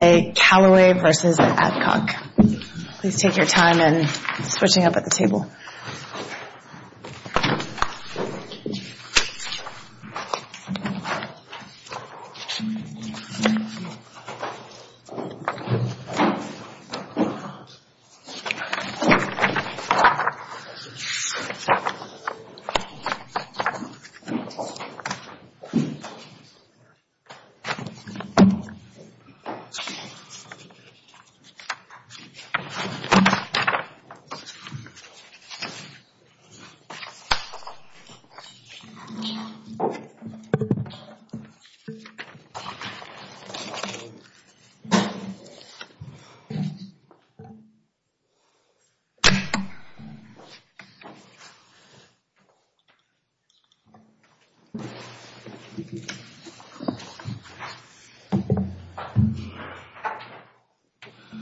Please take your time in switching up at the table. Please take your time in switching up at the table.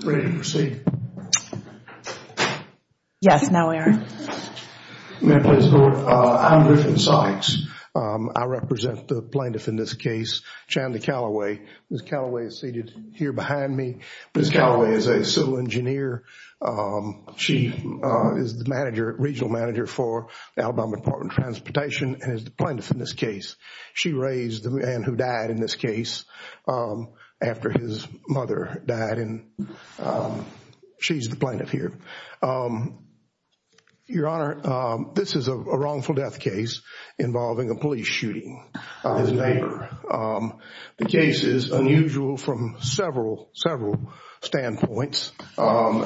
Ready to proceed? Yes, now Aaron. I'm Griffin Sykes. I represent the plaintiff in this case, Chanda Callaway. Ms. Callaway is seated here behind me. Ms. Callaway is a civil engineer. She is the regional manager for the Alabama Department of Transportation and is the plaintiff in this case. She raised the man who died in this case after his mother died. She's the plaintiff here. Your Honor, this is a wrongful death case involving a police shooting of his neighbor. The case is unusual from several, several standpoints. Some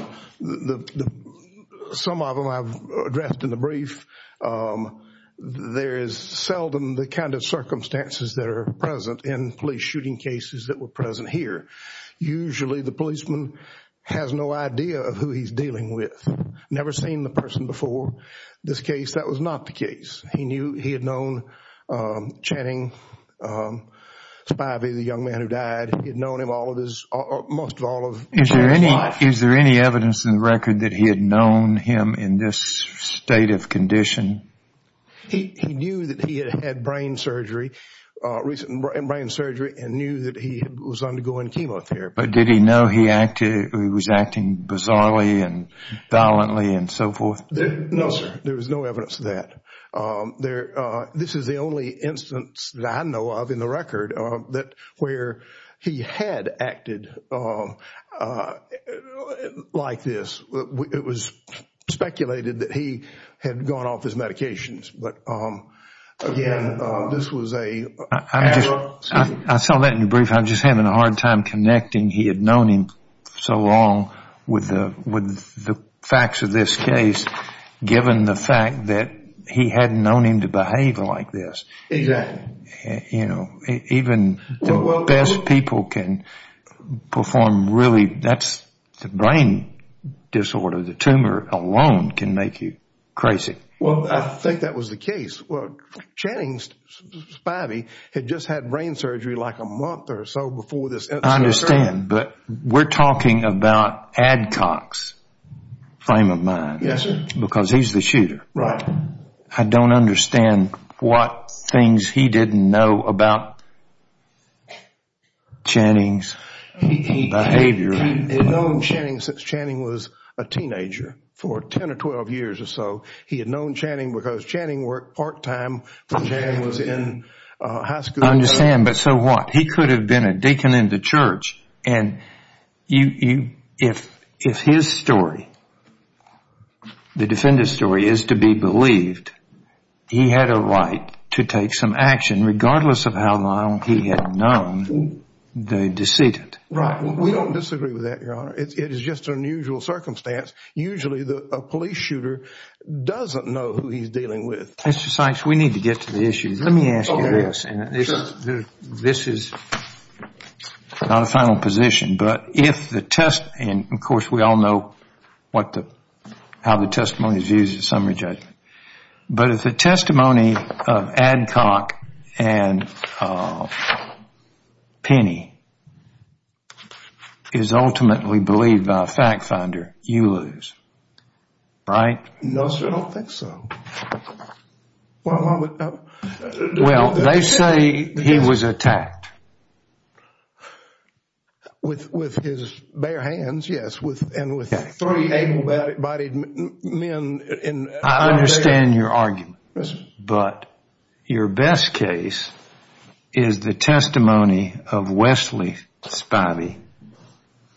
of them I've addressed in the brief. There is seldom the kind of circumstances that are present in police shooting cases that were present here. Usually the policeman has no idea of who he's dealing with. Never seen the person before this case. That was not the case. He knew he had known Channing Spivey, the young man who died. He had known him most of all of his life. Is there any evidence in the record that he had known him in this state of condition? He knew that he had had brain surgery, recent brain surgery, and knew that he was undergoing chemotherapy. But did he know he was acting bizarrely and violently and so forth? No, sir. There was no evidence of that. This is the only instance that I know of in the record where he had acted like this. It was speculated that he had gone off his medications. But, again, this was a casual scene. I saw that in your brief. I'm just having a hard time connecting he had known him so long with the facts of this case, given the fact that he had known him to behave like this. Exactly. You know, even the best people can perform really, that's the brain disorder. The tumor alone can make you crazy. Well, I think that was the case. Well, Channing Spivey had just had brain surgery like a month or so before this. I understand, but we're talking about Adcock's frame of mind. Yes, sir. Because he's the shooter. Right. I don't understand what things he didn't know about Channing's behavior. He had known Channing since Channing was a teenager for 10 or 12 years or so. He had known Channing because Channing worked part-time. Channing was in high school. I understand, but so what? He could have been a deacon in the church. And if his story, the defendant's story, is to be believed, he had a right to take some action regardless of how long he had known the decedent. Right. We don't disagree with that, Your Honor. It is just an unusual circumstance. Usually, a police shooter doesn't know who he's dealing with. Mr. Sykes, we need to get to the issue. Let me ask you this. Sure. This is not a final position, but if the test, and, of course, we all know how the testimony is used in summary judgment, but if the testimony of Adcock and Penny is ultimately believed by a fact finder, you lose. Right? No, sir. I don't think so. Well, they say he was attacked. With his bare hands, yes, and with three able-bodied men. I understand your argument, but your best case is the testimony of Wesley Spivey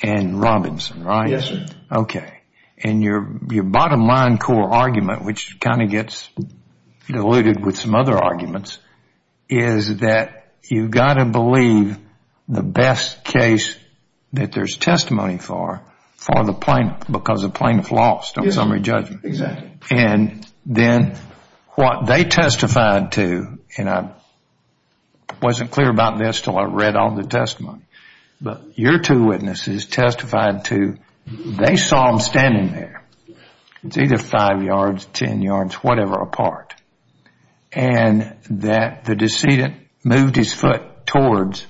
and Robinson, right? Yes, sir. Okay. And your bottom line core argument, which kind of gets diluted with some other arguments, is that you've got to believe the best case that there's testimony for, for the plaintiff, because the plaintiff lost on summary judgment. Exactly. And then what they testified to, and I wasn't clear about this until I read all the testimony, but your two witnesses testified to, they saw him standing there. It's either five yards, ten yards, whatever apart, and that the decedent moved his foot towards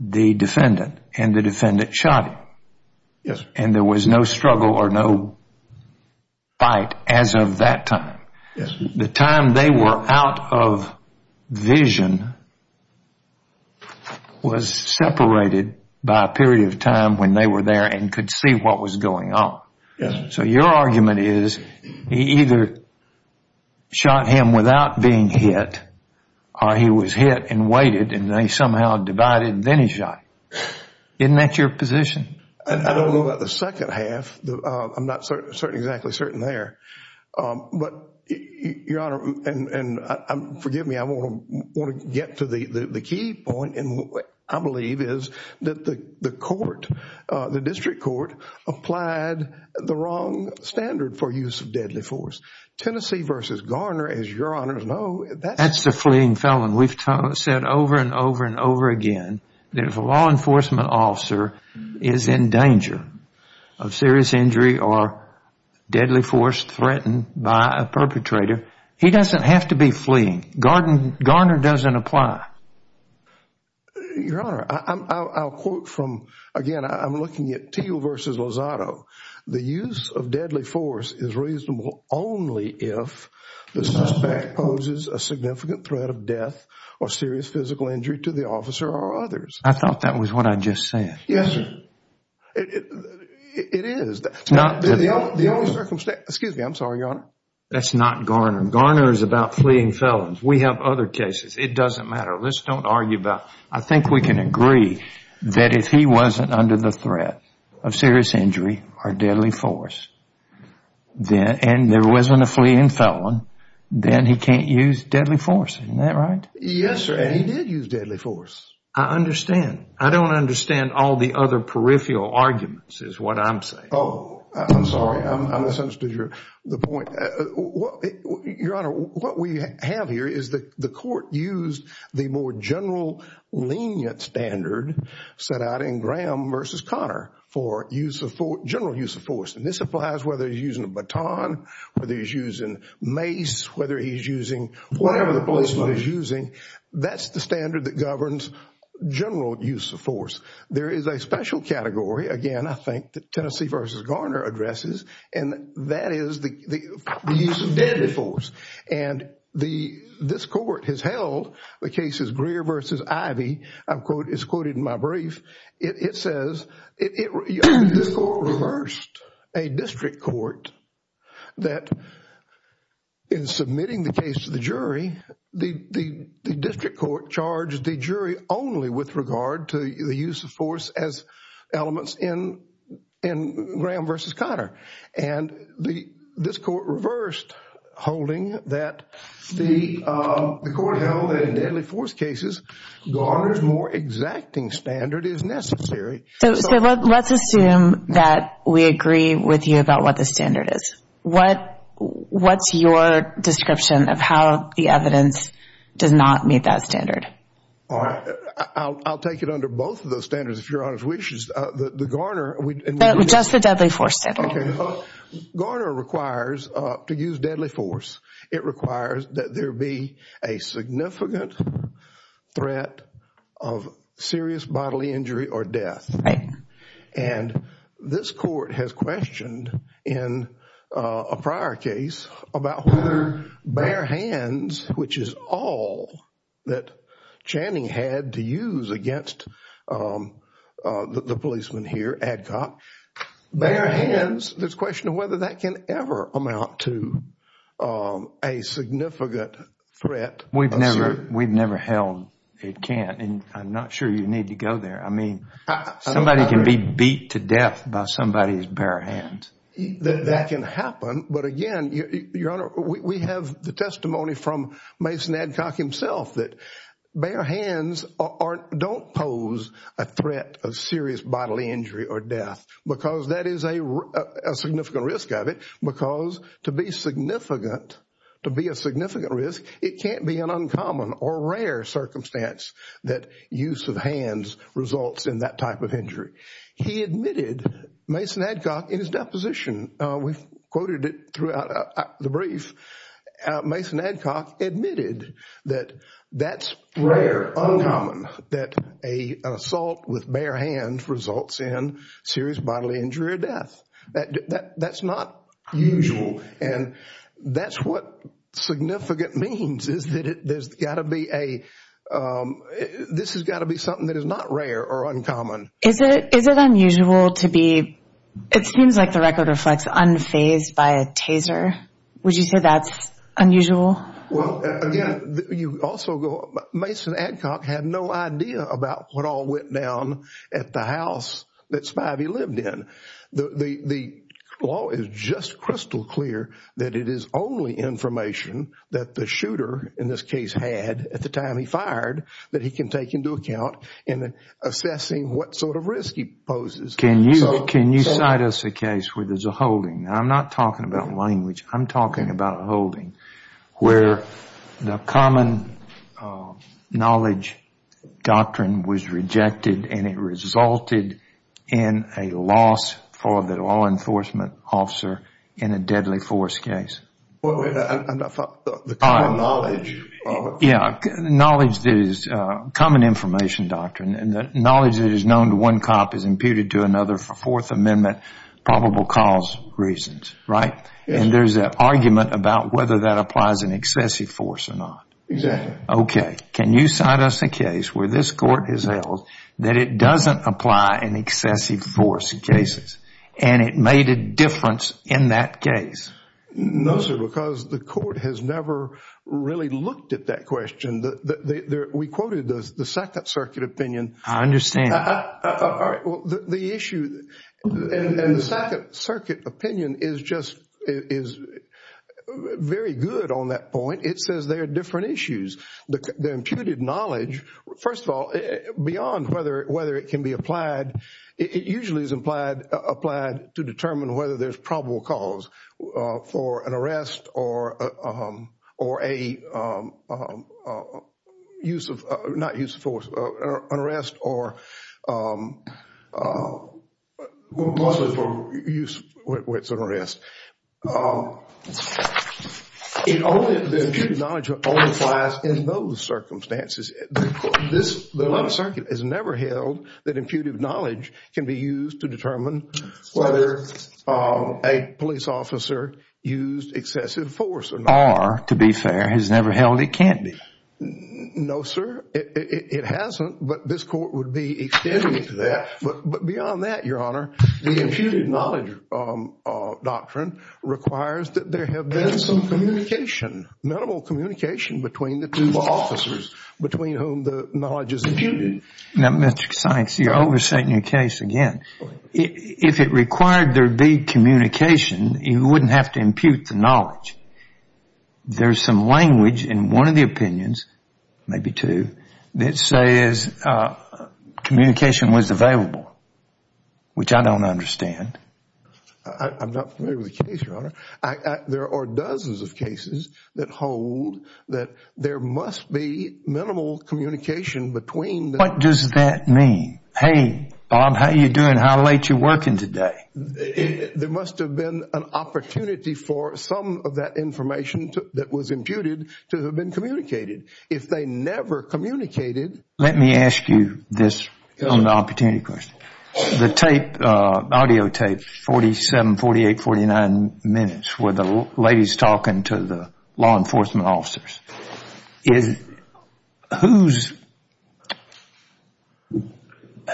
the defendant, and the defendant shot him. Yes. And there was no struggle or no fight as of that time. The time they were out of vision was separated by a period of time when they were there and could see what was going on. So your argument is he either shot him without being hit, or he was hit and waited and they somehow divided and then he shot him. Isn't that your position? I don't know about the second half. I'm not exactly certain there. But, Your Honor, and forgive me, I want to get to the key point, and what I believe is that the court, the district court, applied the wrong standard for use of deadly force. Tennessee v. Garner, as Your Honors know, that's... That's the fleeing felon. We've said over and over and over again that if a law enforcement officer is in danger of serious injury or deadly force threatened by a perpetrator, he doesn't have to be fleeing. Garner doesn't apply. Your Honor, I'll quote from... Again, I'm looking at Teal v. Lozado. The use of deadly force is reasonable only if the suspect poses a significant threat of death or serious physical injury to the officer or others. I thought that was what I just said. Yes, sir. It is. Excuse me. I'm sorry, Your Honor. That's not Garner. Garner is about fleeing felons. We have other cases. It doesn't matter. Let's don't argue about... I think we can agree that if he wasn't under the threat of serious injury or deadly force, and there wasn't a fleeing felon, then he can't use deadly force. Isn't that right? Yes, sir, and he did use deadly force. I understand. I don't understand all the other peripheral arguments is what I'm saying. I'm sorry. I misunderstood the point. Your Honor, what we have here is the court used the more general lenient standard set out in Graham v. Connor for general use of force. And this applies whether he's using a baton, whether he's using mace, whether he's using whatever the policeman is using. That's the standard that governs general use of force. There is a special category, again, I think, that Tennessee v. Garner addresses, and that is the use of deadly force. And this court has held the cases Greer v. Ivey. It's quoted in my brief. It says this court reversed a district court that in submitting the case to the jury, the district court charged the jury only with regard to the use of force as elements in Graham v. Connor. And this court reversed holding that the court held that in deadly force cases, Garner's more exacting standard is necessary. So let's assume that we agree with you about what the standard is. What's your description of how the evidence does not meet that standard? I'll take it under both of those standards, if Your Honor wishes. Just the deadly force standard. Okay. Garner requires to use deadly force. It requires that there be a significant threat of serious bodily injury or death. And this court has questioned in a prior case about whether bare hands, which is all that Channing had to use against the policeman here, Adcock, bare hands, there's a question of whether that can ever amount to a significant threat. We've never held it can't. I'm not sure you need to go there. Somebody can be beat to death by somebody's bare hands. That can happen. But again, Your Honor, we have the testimony from Mason Adcock himself that bare hands don't pose a threat of serious bodily injury or death because that is a significant risk of it. Because to be significant, to be a significant risk, it can't be an uncommon or rare circumstance that use of hands results in that type of injury. He admitted, Mason Adcock, in his deposition, we've quoted it throughout the brief, Mason Adcock admitted that that's rare, uncommon, that an assault with bare hands results in serious bodily injury or death. That's not usual. And that's what significant means is that there's got to be a – this has got to be something that is not rare or uncommon. Is it unusual to be – it seems like the record reflects unfazed by a taser. Would you say that's unusual? Well, again, you also go – Mason Adcock had no idea about what all went down at the house that Spivey lived in. The law is just crystal clear that it is only information that the shooter, in this case, had at the time he fired that he can take into account in assessing what sort of risk he poses. Can you cite us a case where there's a holding? I'm not talking about language. I'm talking about a holding where the common knowledge doctrine was rejected and it resulted in a loss for the law enforcement officer in a deadly force case. Wait a minute. I'm not following. The common knowledge. Yeah. Knowledge that is – common information doctrine. The knowledge that is known to one cop is imputed to another for Fourth Amendment probable cause reasons, right? And there's an argument about whether that applies in excessive force or not. Exactly. Okay. Can you cite us a case where this court has held that it doesn't apply in excessive force cases and it made a difference in that case? No, sir, because the court has never really looked at that question. We quoted the Second Circuit opinion. I understand. The issue in the Second Circuit opinion is just very good on that point. It says there are different issues. The imputed knowledge, first of all, beyond whether it can be applied, it usually is applied to determine whether there's probable cause for an arrest or a use of – not use of force, an arrest or possibly for use where it's an arrest. The imputed knowledge only applies in those circumstances. The Second Circuit has never held that imputed knowledge can be used to determine whether a police officer used excessive force or not. Or, to be fair, has never held it can't be. No, sir, it hasn't, but this court would be extending it to that. But beyond that, Your Honor, the imputed knowledge doctrine requires that there have been some communication, minimal communication between the two officers between whom the knowledge is imputed. Now, Mr. Sykes, you're overstating your case again. If it required there be communication, you wouldn't have to impute the knowledge. There's some language in one of the opinions, maybe two, that says communication was available, which I don't understand. I'm not familiar with the case, Your Honor. There are dozens of cases that hold that there must be minimal communication between the – What does that mean? Hey, Bob, how you doing? How late you working today? There must have been an opportunity for some of that information that was imputed to have been communicated. If they never communicated – Let me ask you this on the opportunity question. The tape, audio tape, 47, 48, 49 minutes where the lady's talking to the law enforcement officers.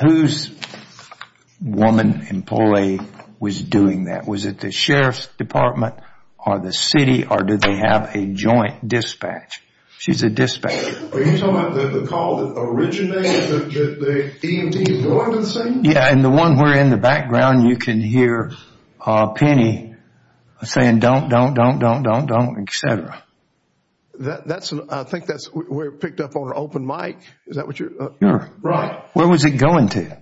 Whose woman employee was doing that? Was it the sheriff's department or the city, or did they have a joint dispatch? She's a dispatcher. Are you talking about the call that originated the EMTs going to the scene? Yeah, and the one where in the background you can hear Penny saying, don't, don't, don't, don't, don't, don't, et cetera. I think that's where it picked up on her open mic. Is that what you're – Sure. Right. Where was it going to?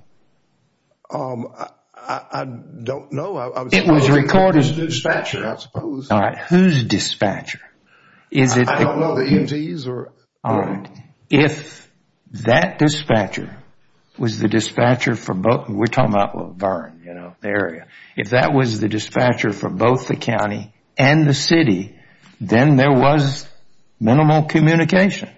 I don't know. It was recorded. It was a dispatcher, I suppose. All right. Whose dispatcher? I don't know. The EMTs or? All right. If that dispatcher was the dispatcher for both – we're talking about Verne, you know, the area. If that was the dispatcher for both the county and the city, then there was minimal communication.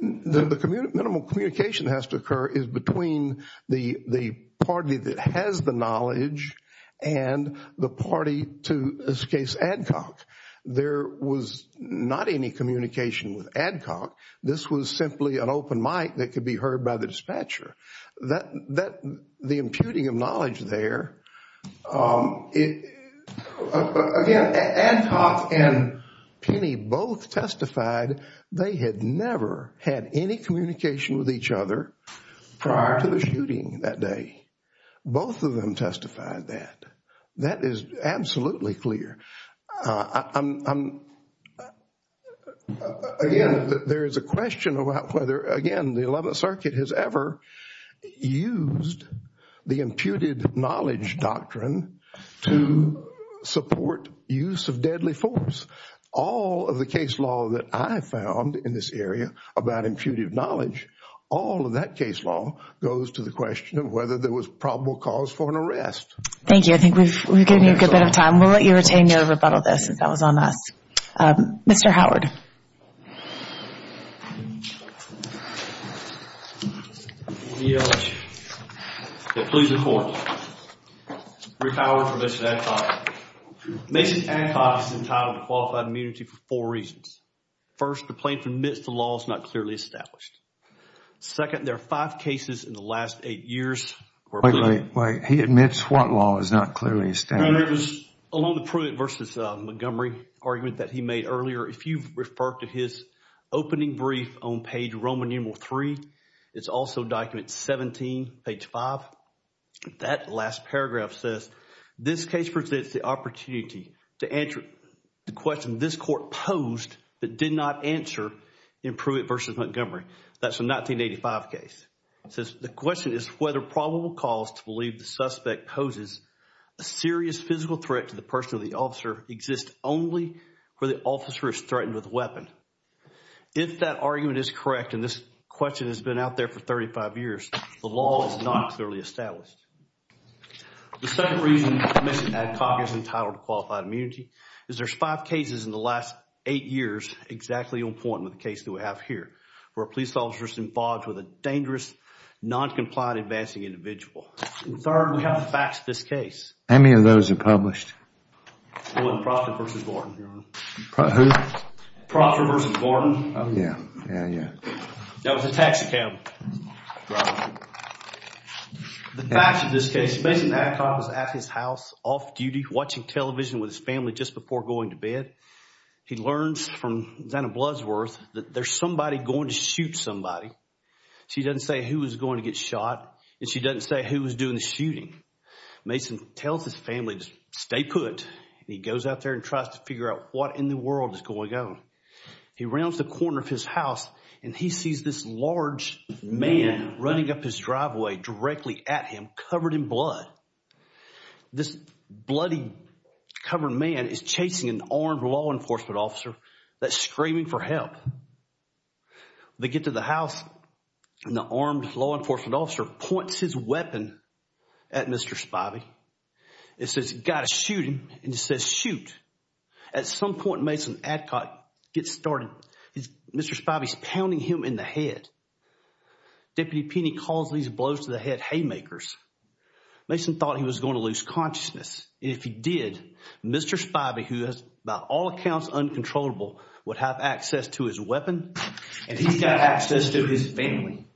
The minimal communication that has to occur is between the party that has the knowledge and the party to, in this case, Adcock. There was not any communication with Adcock. This was simply an open mic that could be heard by the dispatcher. The imputing of knowledge there, again, Adcock and Penny both testified they had never had any communication with each other prior to the shooting that day. Both of them testified that. That is absolutely clear. Again, there is a question about whether, again, the Eleventh Circuit has ever used the imputed knowledge doctrine to support use of deadly force. All of the case law that I found in this area about imputed knowledge, all of that case law goes to the question of whether there was probable cause for an arrest. Thank you. I think we've given you a good bit of time. We'll let you retain your rebuttal, though, since that was on us. Mr. Howard. Please report. Rick Howard for Mr. Adcock. Mason Adcock is entitled to qualified immunity for four reasons. First, the plaintiff admits the law is not clearly established. Second, there are five cases in the last eight years where... Wait, wait, wait. He admits what law is not clearly established? It was along the Pruitt v. Montgomery argument that he made earlier. If you refer to his opening brief on page Roman numeral 3, it's also document 17, page 5. That last paragraph says, This case presents the opportunity to answer the question this court posed but did not answer in Pruitt v. Montgomery. That's a 1985 case. It says, The question is whether probable cause to believe the suspect poses a serious physical threat to the person or the officer exists only where the officer is threatened with a weapon. If that argument is correct, and this question has been out there for 35 years, the law is not clearly established. The second reason Mr. Adcock is entitled to qualified immunity is there's five cases in the last eight years exactly on point with the case that we have here, where a police officer is involved with a dangerous, noncompliant, advancing individual. Third, we have the facts of this case. How many of those are published? Proctor v. Gordon. Who? Proctor v. Gordon. Yeah, yeah, yeah. That was a tax account. Right. The facts of this case, Mr. Adcock is at his house, off duty, watching television with his family just before going to bed. He learns from Zanna Bloodsworth that there's somebody going to shoot somebody. She doesn't say who is going to get shot, and she doesn't say who is doing the shooting. Mason tells his family to stay put, and he goes out there and tries to figure out what in the world is going on. He rounds the corner of his house, and he sees this large man running up his driveway directly at him covered in blood. This bloody covered man is chasing an armed law enforcement officer that's screaming for help. They get to the house, and the armed law enforcement officer points his weapon at Mr. Spivey. It says, got to shoot him, and it says, shoot. At some point, Mason Adcock gets started. Mr. Spivey's pounding him in the head. Deputy Penney calls these blows to the head haymakers. Mason thought he was going to lose consciousness, and if he did, Mr. Spivey, who is by all accounts uncontrollable, would have access to his weapon, and he's got access to his family.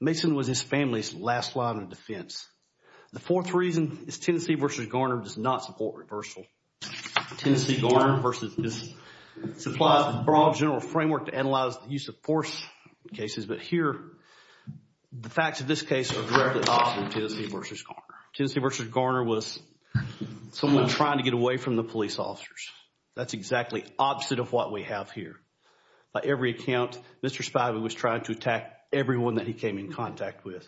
Mason was his family's last line of defense. The fourth reason is Tennessee v. Garner does not support reversal. Tennessee v. Garner supplies a broad general framework to analyze the use of force cases, but here, the facts of this case are directly opposite of Tennessee v. Garner. Tennessee v. Garner was someone trying to get away from the police officers. That's exactly opposite of what we have here. By every account, Mr. Spivey was trying to attack everyone that he came in contact with.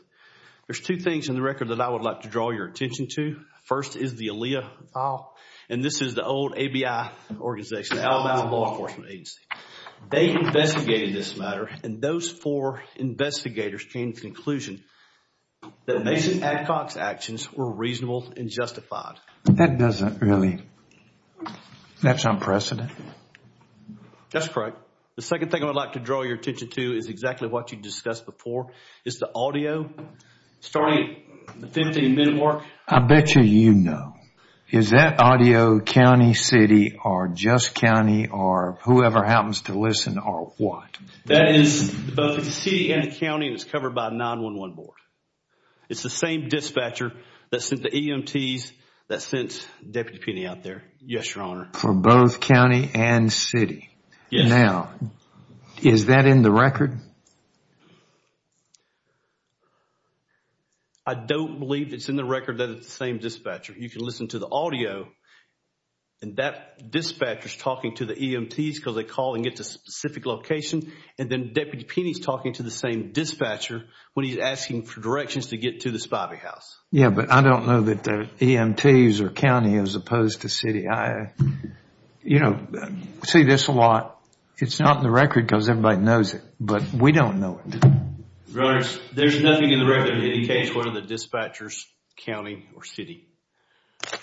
There's two things in the record that I would like to draw your attention to. First is the ALEA, and this is the old ABI organization, Alabama Law Enforcement Agency. They investigated this matter, and those four investigators came to the conclusion that Mason Adcock's actions were reasonable and justified. That doesn't really... That's unprecedented. That's correct. The second thing I would like to draw your attention to is exactly what you discussed before. It's the audio. Starting at the 15-minute mark. I bet you you know. Is that audio county, city, or just county, or whoever happens to listen, or what? That is both the city and the county, and it's covered by a 9-1-1 board. It's the same dispatcher that sent the EMTs, that sent Deputy Penney out there. Yes, Your Honor. For both county and city. Yes. Now, is that in the record? I don't believe it's in the record that it's the same dispatcher. You can listen to the audio, and that dispatcher is talking to the EMTs because they call and get to a specific location, and then Deputy Penney is talking to the same dispatcher when he's asking for directions to get to the Spivey house. Yes, but I don't know that the EMTs are county as opposed to city. I see this a lot. It's not in the record because everybody knows it, but we don't know it. Your Honor, there's nothing in the record that indicates whether the dispatcher is county or city.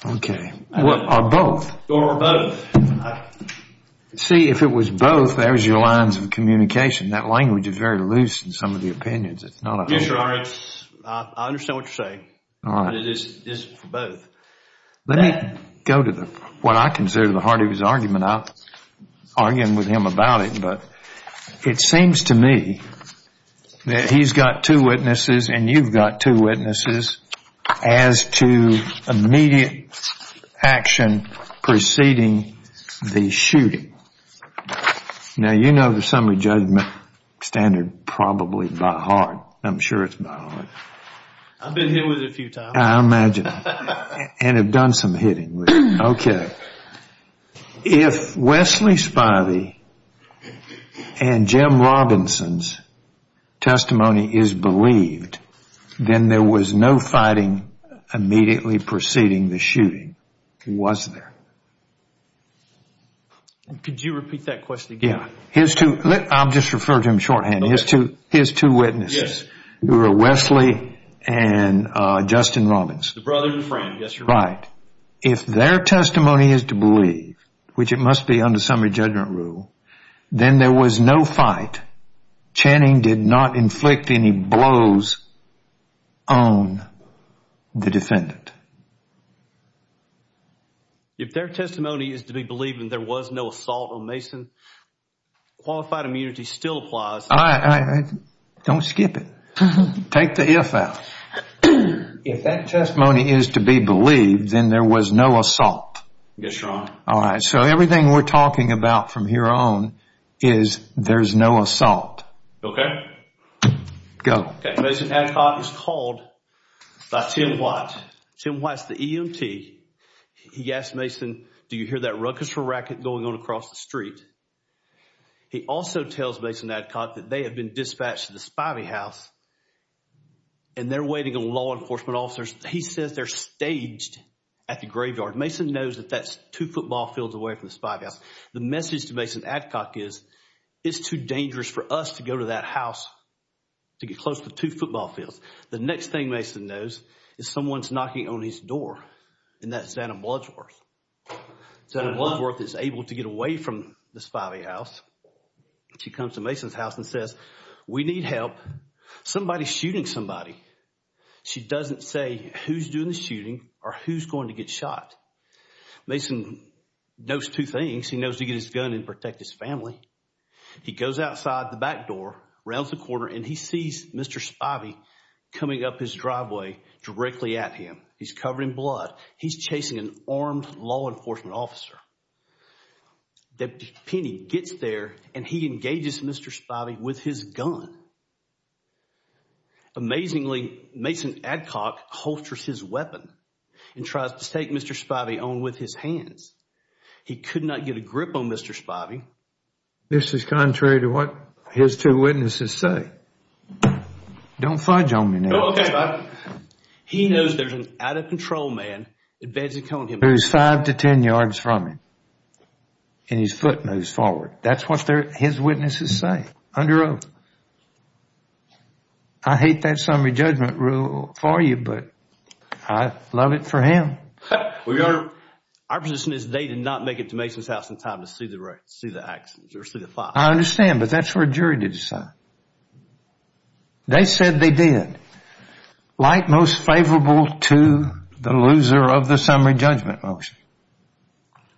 Okay. Or both. Or both. See, if it was both, there's your lines of communication. That language is very loose in some of the opinions. Yes, Your Honor. I understand what you're saying, but it is for both. Let me go to what I consider the heart of his argument. I'm not arguing with him about it, but it seems to me that he's got two witnesses and you've got two witnesses as to immediate action preceding the shooting. Now, you know the summary judgment standard probably by heart. I'm sure it's by heart. I've been hit with it a few times. I imagine. And have done some hitting with it. Okay. If Wesley Spivey and Jim Robinson's testimony is believed, then there was no fighting immediately preceding the shooting, was there? Could you repeat that question again? Yeah. I'll just refer to him shorthand. His two witnesses were Wesley and Justin Robinson. The brother and friend. Yes, Your Honor. If their testimony is to believe, which it must be under summary judgment rule, then there was no fight. Channing did not inflict any blows on the defendant. If their testimony is to be believed and there was no assault on Mason, qualified immunity still applies. Don't skip it. Take the if out. If that testimony is to be believed, then there was no assault. Yes, Your Honor. All right. So everything we're talking about from here on is there's no assault. Okay. Go. Mason Adcock is called by Tim White. Tim White's the EMT. He asks Mason, do you hear that ruckus from racket going on across the street? He also tells Mason Adcock that they have been dispatched to the Spivey house and they're waiting on law enforcement officers. He says they're staged at the graveyard. Mason knows that that's two football fields away from the Spivey house. The message to Mason Adcock is it's too dangerous for us to go to that house to get close to two football fields. The next thing Mason knows is someone's knocking on his door, and that's Zanna Bloodsworth. Zanna Bloodsworth is able to get away from the Spivey house. She comes to Mason's house and says, we need help. Somebody's shooting somebody. She doesn't say who's doing the shooting or who's going to get shot. Mason knows two things. He knows to get his gun and protect his family. He goes outside the back door, rounds the corner, and he sees Mr. Spivey coming up his driveway directly at him. He's covered in blood. He's chasing an armed law enforcement officer. Deputy Penney gets there, and he engages Mr. Spivey with his gun. Amazingly, Mason Adcock holsters his weapon and tries to take Mr. Spivey on with his hands. He could not get a grip on Mr. Spivey. This is contrary to what his two witnesses say. Don't fudge on me now. He knows there's an out-of-control man advancing on him. He moves five to ten yards from him, and his foot moves forward. That's what his witnesses say under oath. I hate that summary judgment rule for you, but I love it for him. Our position is they did not make it to Mason's house in time to see the accidents or see the fire. I understand, but that's for a jury to decide. They said they did. Like most favorable to the loser of the summary judgment motion.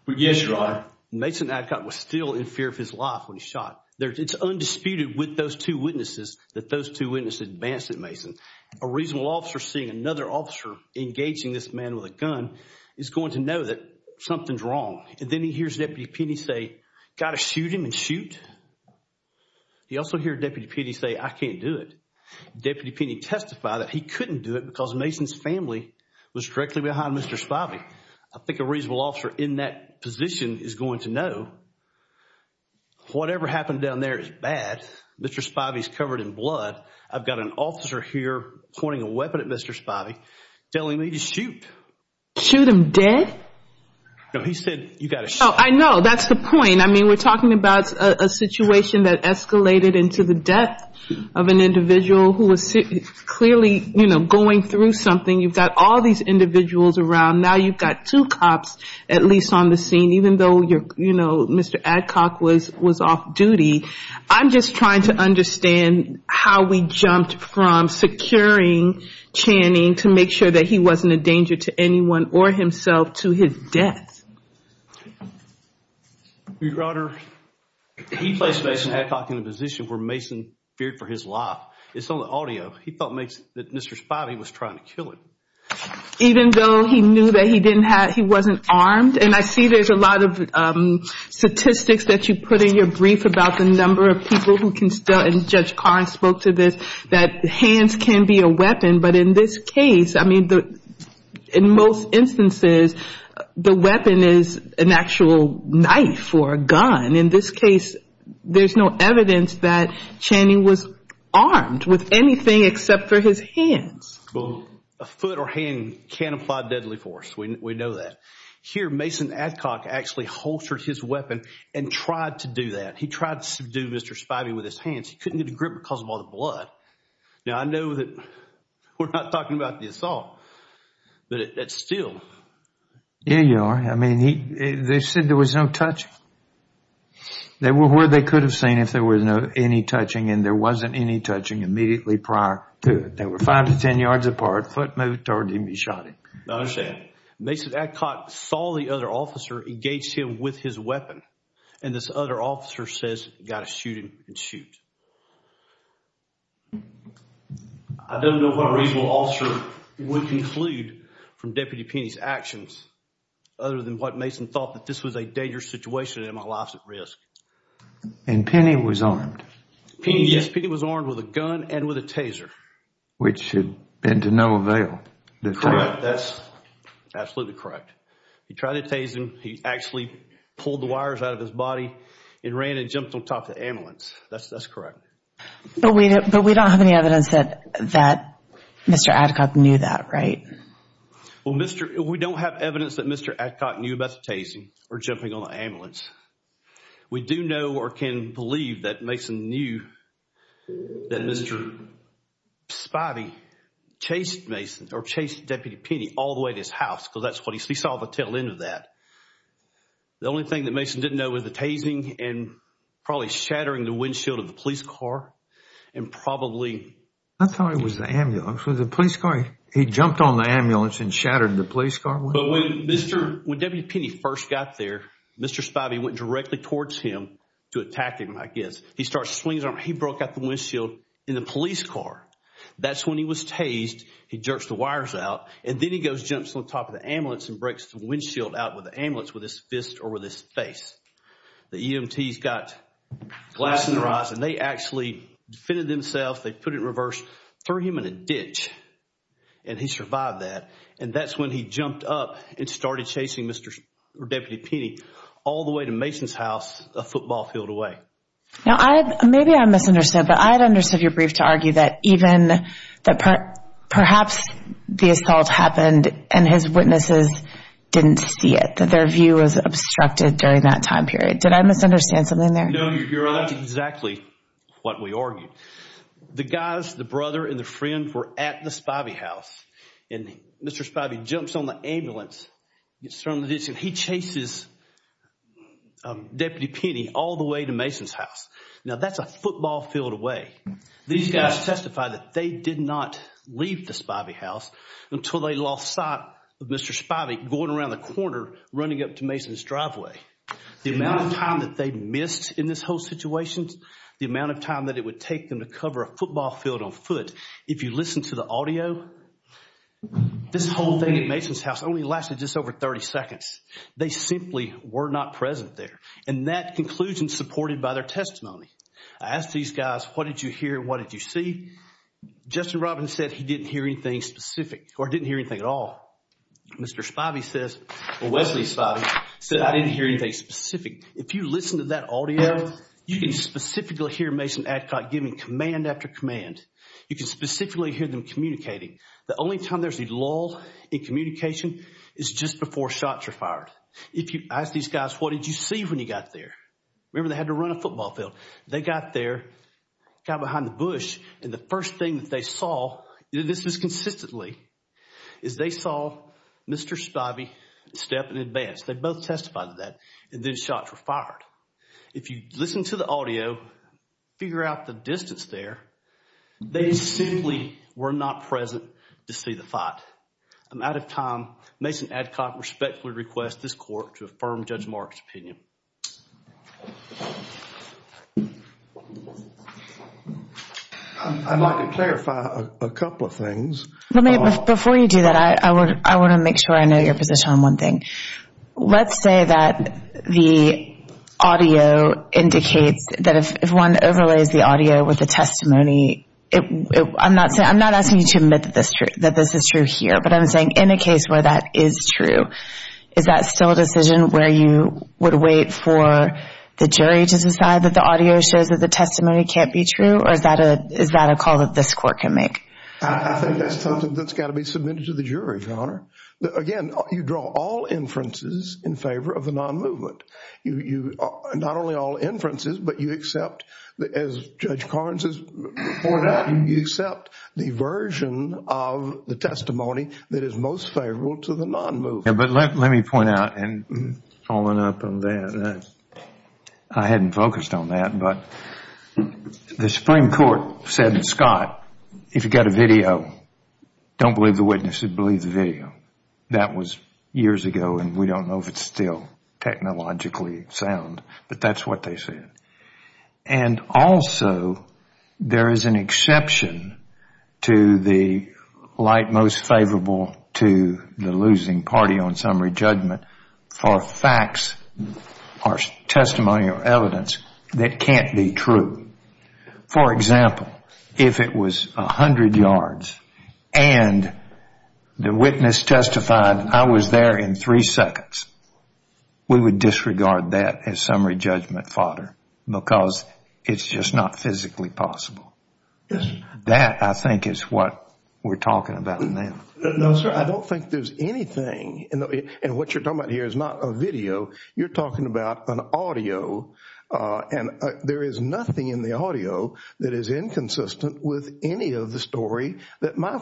Yes, Your Honor. Mason Adcock was still in fear of his life when he shot. It's undisputed with those two witnesses that those two witnesses advanced at Mason. A reasonable officer seeing another officer engaging this man with a gun is going to know that something's wrong. Then he hears Deputy Penney say, Got to shoot him and shoot. He also hears Deputy Penney say, I can't do it. Deputy Penney testify that he couldn't do it because Mason's family was directly behind Mr. Spivey. I think a reasonable officer in that position is going to know whatever happened down there is bad. Mr. Spivey's covered in blood. I've got an officer here pointing a weapon at Mr. Spivey telling me to shoot. Shoot him dead? No, he said you got to shoot. I know. That's the point. I mean, we're talking about a situation that escalated into the death of an individual who was clearly going through something. You've got all these individuals around. Now you've got two cops at least on the scene even though Mr. Adcock was off duty. I'm just trying to understand how we jumped from securing Channing to make sure that he wasn't a danger to anyone or himself to his death. Your Honor, he placed Mason Adcock in a position where Mason feared for his life. It's on the audio. He felt that Mr. Spivey was trying to kill him. Even though he knew that he wasn't armed? And I see there's a lot of statistics that you put in your brief about the number of people who can still, and Judge Carr spoke to this, that hands can be a weapon. But in this case, I mean, in most instances, the weapon is an actual knife or a gun. In this case, there's no evidence that Channing was armed with anything except for his hands. Well, a foot or hand can apply deadly force. We know that. Here, Mason Adcock actually holstered his weapon and tried to do that. He tried to subdue Mr. Spivey with his hands. He couldn't get a grip because of all the blood. Now, I know that we're not talking about the assault, but still. Yeah, Your Honor. I mean, they said there was no touching. They were where they could have seen if there was any touching, and there wasn't any touching immediately prior to it. They were five to ten yards apart. Foot moved toward him. He shot him. I understand. Mason Adcock saw the other officer engage him with his weapon, and this other officer says, got to shoot him and shoot. I don't know what a reasonable officer would conclude from Deputy Penney's actions, other than what Mason thought that this was a dangerous situation and my life's at risk. And Penney was armed. Yes, Penney was armed with a gun and with a taser. Which had been to no avail. Correct. That's absolutely correct. He tried to tase him. He actually pulled the wires out of his body and ran and jumped on top of the ambulance. That's correct. But we don't have any evidence that Mr. Adcock knew that, right? Well, we don't have evidence that Mr. Adcock knew about the tasing or jumping on the ambulance. We do know or can believe that Mason knew that Mr. Spivey chased Mason or chased Deputy Penney all the way to his house because that's what he saw the tail end of that. The only thing that Mason didn't know was the tasing and probably shattering the windshield of the police car and probably... I thought it was the ambulance. Was it the police car? He jumped on the ambulance and shattered the police car? But when Deputy Penney first got there, Mr. Spivey went directly towards him to attack him, I guess. He starts swinging his arm. He broke out the windshield in the police car. That's when he was tased. He jerks the wires out. And then he goes and jumps on top of the ambulance and breaks the windshield out with the ambulance with his fist or with his face. The EMTs got glass in their eyes and they actually defended themselves. They put it in reverse, threw him in a ditch, and he survived that. And that's when he jumped up and started chasing Mr. or Deputy Penney all the way to Mason's house, a football field away. Now, maybe I misunderstood, but I had understood your brief to argue that perhaps the assault happened and his witnesses didn't see it, that their view was obstructed during that time period. Did I misunderstand something there? No, Your Honor. That's exactly what we argued. The guys, the brother and the friend, were at the Spivey house, and Mr. Spivey jumps on the ambulance, gets thrown in the ditch, and he chases Deputy Penney all the way to Mason's house. Now, that's a football field away. These guys testified that they did not leave the Spivey house until they lost sight of Mr. Spivey going around the corner running up to Mason's driveway. The amount of time that they missed in this whole situation, the amount of time that it would take them to cover a football field on foot, if you listen to the audio, this whole thing at Mason's house only lasted just over 30 seconds. They simply were not present there, and that conclusion is supported by their testimony. I asked these guys, what did you hear? What did you see? Justin Robinson said he didn't hear anything specific or didn't hear anything at all. Mr. Spivey says, well, Wesley Spivey said, I didn't hear anything specific. If you listen to that audio, you can specifically hear Mason Adcock giving command after command. You can specifically hear them communicating. The only time there's a lull in communication is just before shots are fired. I asked these guys, what did you see when you got there? Remember, they had to run a football field. They got there, got behind the bush, and the first thing that they saw, and this was consistently, is they saw Mr. Spivey step in advance. If you listen to the audio, figure out the distance there, they simply were not present to see the fight. I'm out of time. Mason Adcock respectfully requests this court to affirm Judge Mark's opinion. I'd like to clarify a couple of things. Before you do that, I want to make sure I know your position on one thing. Let's say that the audio indicates that if one overlays the audio with the testimony, I'm not asking you to admit that this is true here, but I'm saying in a case where that is true, is that still a decision where you would wait for the jury to decide that the audio shows that the testimony can't be true, or is that a call that this court can make? I think that's something that's got to be submitted to the jury, Your Honor. Again, you draw all inferences in favor of the non-movement. Not only all inferences, but you accept, as Judge Carnes has pointed out, you accept the version of the testimony that is most favorable to the non-movement. Let me point out, following up on that, I hadn't focused on that, but the Supreme Court said, Scott, if you've got a video, don't believe the witness, believe the video. That was years ago, and we don't know if it's still technologically sound, but that's what they said. Also, there is an exception to the light most favorable to the losing party on summary judgment for facts or testimonial evidence that can't be true. For example, if it was a hundred yards and the witness testified, I was there in three seconds, we would disregard that as summary judgment fodder, because it's just not physically possible. That, I think, is what we're talking about now. No, sir. I don't think there's anything, and what you're talking about here is not a video. You're talking about an audio, and there is nothing in the audio that is inconsistent with any of the story that my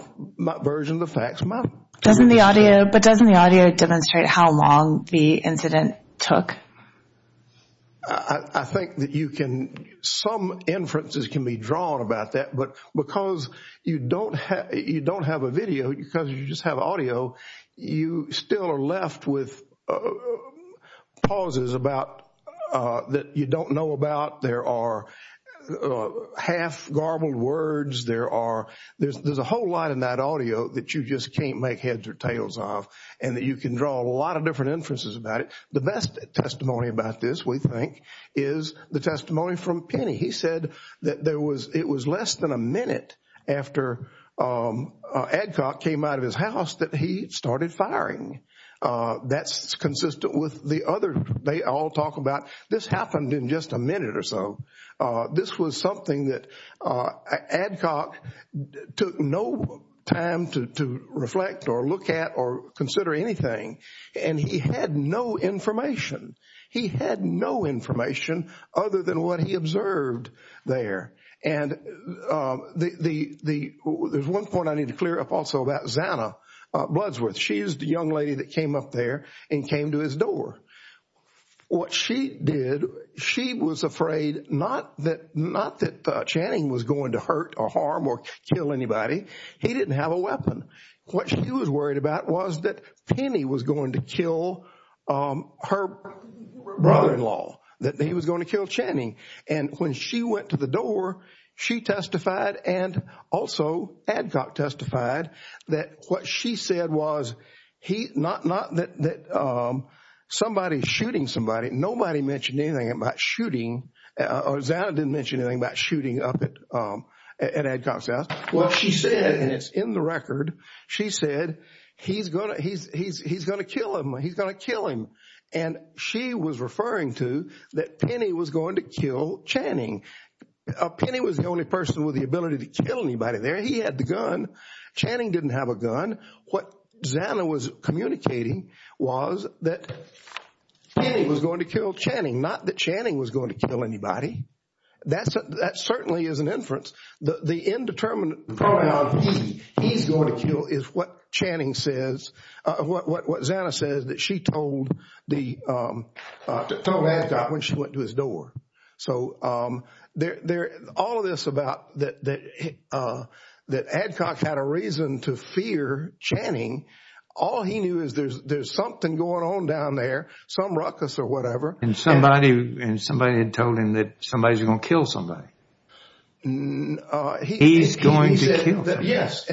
version of the facts might be. But doesn't the audio demonstrate how long the incident took? I think that some inferences can be drawn about that, but because you don't have a video, because you just have audio, you still are left with pauses that you don't know about. There are half-garbled words. There's a whole lot in that audio that you just can't make heads or tails of, and you can draw a lot of different inferences about it. The best testimony about this, we think, is the testimony from Penny. He said that it was less than a minute after Adcock came out of his house that he started firing. That's consistent with the other they all talk about. This happened in just a minute or so. This was something that Adcock took no time to reflect or look at or consider anything, and he had no information. He had no information other than what he observed there. There's one point I need to clear up also about Zanna Bloodsworth. She is the young lady that came up there and came to his door. What she did, she was afraid not that Channing was going to hurt or harm or kill anybody. He didn't have a weapon. What she was worried about was that Penny was going to kill her brother-in-law, that he was going to kill Channing. When she went to the door, she testified and also Adcock testified that what she said was not that somebody is shooting somebody. Nobody mentioned anything about shooting, or Zanna didn't mention anything about shooting up at Adcock's house. What she said, and it's in the record, she said, he's going to kill him. He's going to kill him. She was referring to that Penny was going to kill Channing. Penny was the only person with the ability to kill anybody there. He had the gun. Channing didn't have a gun. What Zanna was communicating was that Penny was going to kill Channing, not that Channing was going to kill anybody. That certainly is an inference. The indeterminate pronoun he's going to kill is what Channing says, what Zanna says that she told Adcock when she went to his door. So all of this about that Adcock had a reason to fear Channing, all he knew is there's something going on down there, some ruckus or whatever. And somebody had told him that somebody's going to kill somebody. He's going to kill somebody. Yes,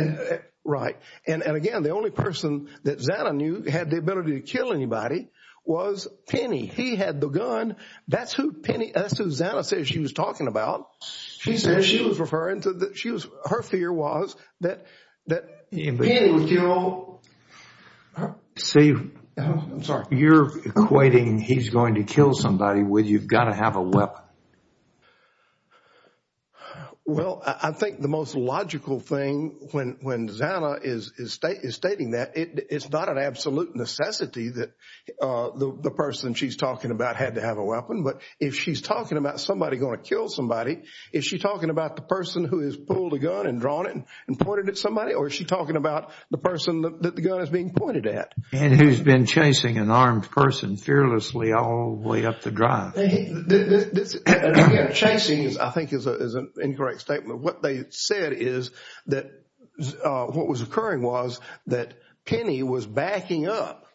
right. And again, the only person that Zanna knew had the ability to kill anybody was Penny. He had the gun. That's who Zanna said she was talking about. She said she was referring to her fear was that Penny would kill. Steve, you're equating he's going to kill somebody with you've got to have a weapon. Well, I think the most logical thing when Zanna is stating that, it's not an absolute necessity that the person she's talking about had to have a weapon. But if she's talking about somebody going to kill somebody, is she talking about the person who has pulled a gun and drawn it and pointed at somebody? Or is she talking about the person that the gun is being pointed at? And who's been chasing an armed person fearlessly all the way up the drive. Chasing, I think, is an incorrect statement. What they said is that what was occurring was that Penny was backing up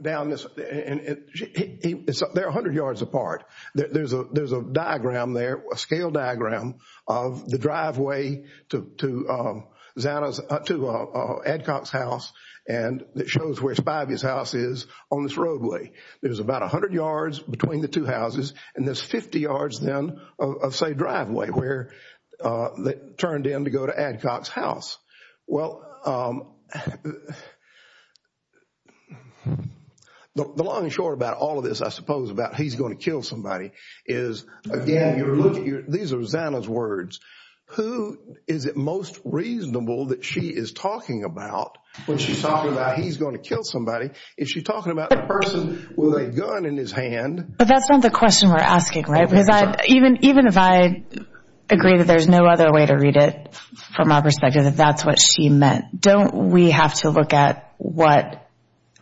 down this – they're 100 yards apart. There's a diagram there, a scale diagram of the driveway to Zanna's – to Adcock's house. And it shows where Spivey's house is on this roadway. There's about 100 yards between the two houses. And there's 50 yards then of, say, driveway where they turned in to go to Adcock's house. Well, the long and short about all of this, I suppose, about he's going to kill somebody is, again, these are Zanna's words. Who is it most reasonable that she is talking about when she's talking about he's going to kill somebody? Is she talking about the person with a gun in his hand? But that's not the question we're asking, right? Because even if I agree that there's no other way to read it from our perspective that that's what she meant, don't we have to look at what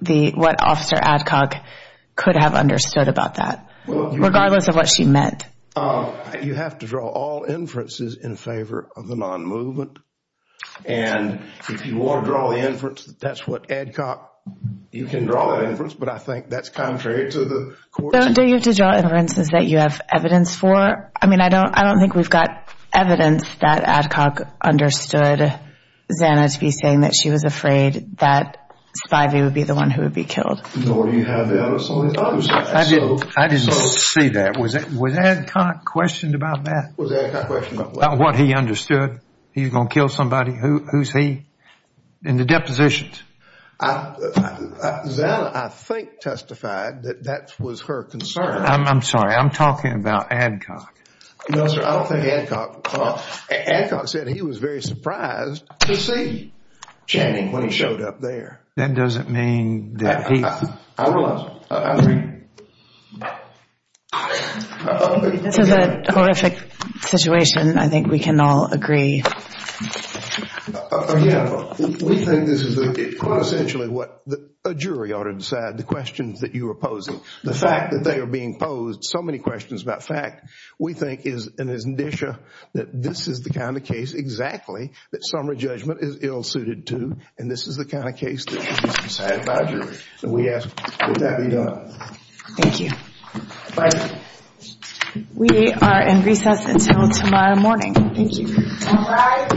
Officer Adcock could have understood about that, regardless of what she meant? You have to draw all inferences in favor of the non-movement. And if you want to draw the inference that that's what Adcock – you can draw that inference. But I think that's contrary to the court's – Don't you have to draw inferences that you have evidence for? I mean, I don't think we've got evidence that Adcock understood Zanna to be saying that she was afraid that Spivey would be the one who would be killed. Nor do you have evidence on the other side. I didn't see that. Was Adcock questioned about that? Was Adcock questioned about what? About what he understood? He's going to kill somebody. Who's he in the depositions? Zanna, I think, testified that that was her concern. I'm sorry. I'm talking about Adcock. No, sir. I don't think Adcock – Adcock said he was very surprised to see Channing when he showed up there. That doesn't mean that he – I realize. I agree. This is a horrific situation. I think we can all agree. Again, we think this is quite essentially what a jury ought to decide, the questions that you are posing. The fact that they are being posed so many questions about fact we think is an indicia that this is the kind of case exactly that summary judgment is ill-suited to, and this is the kind of case that should be decided by a jury. We ask that that be done. Thank you. Bye. We are in recess until tomorrow morning. Thank you. Bye.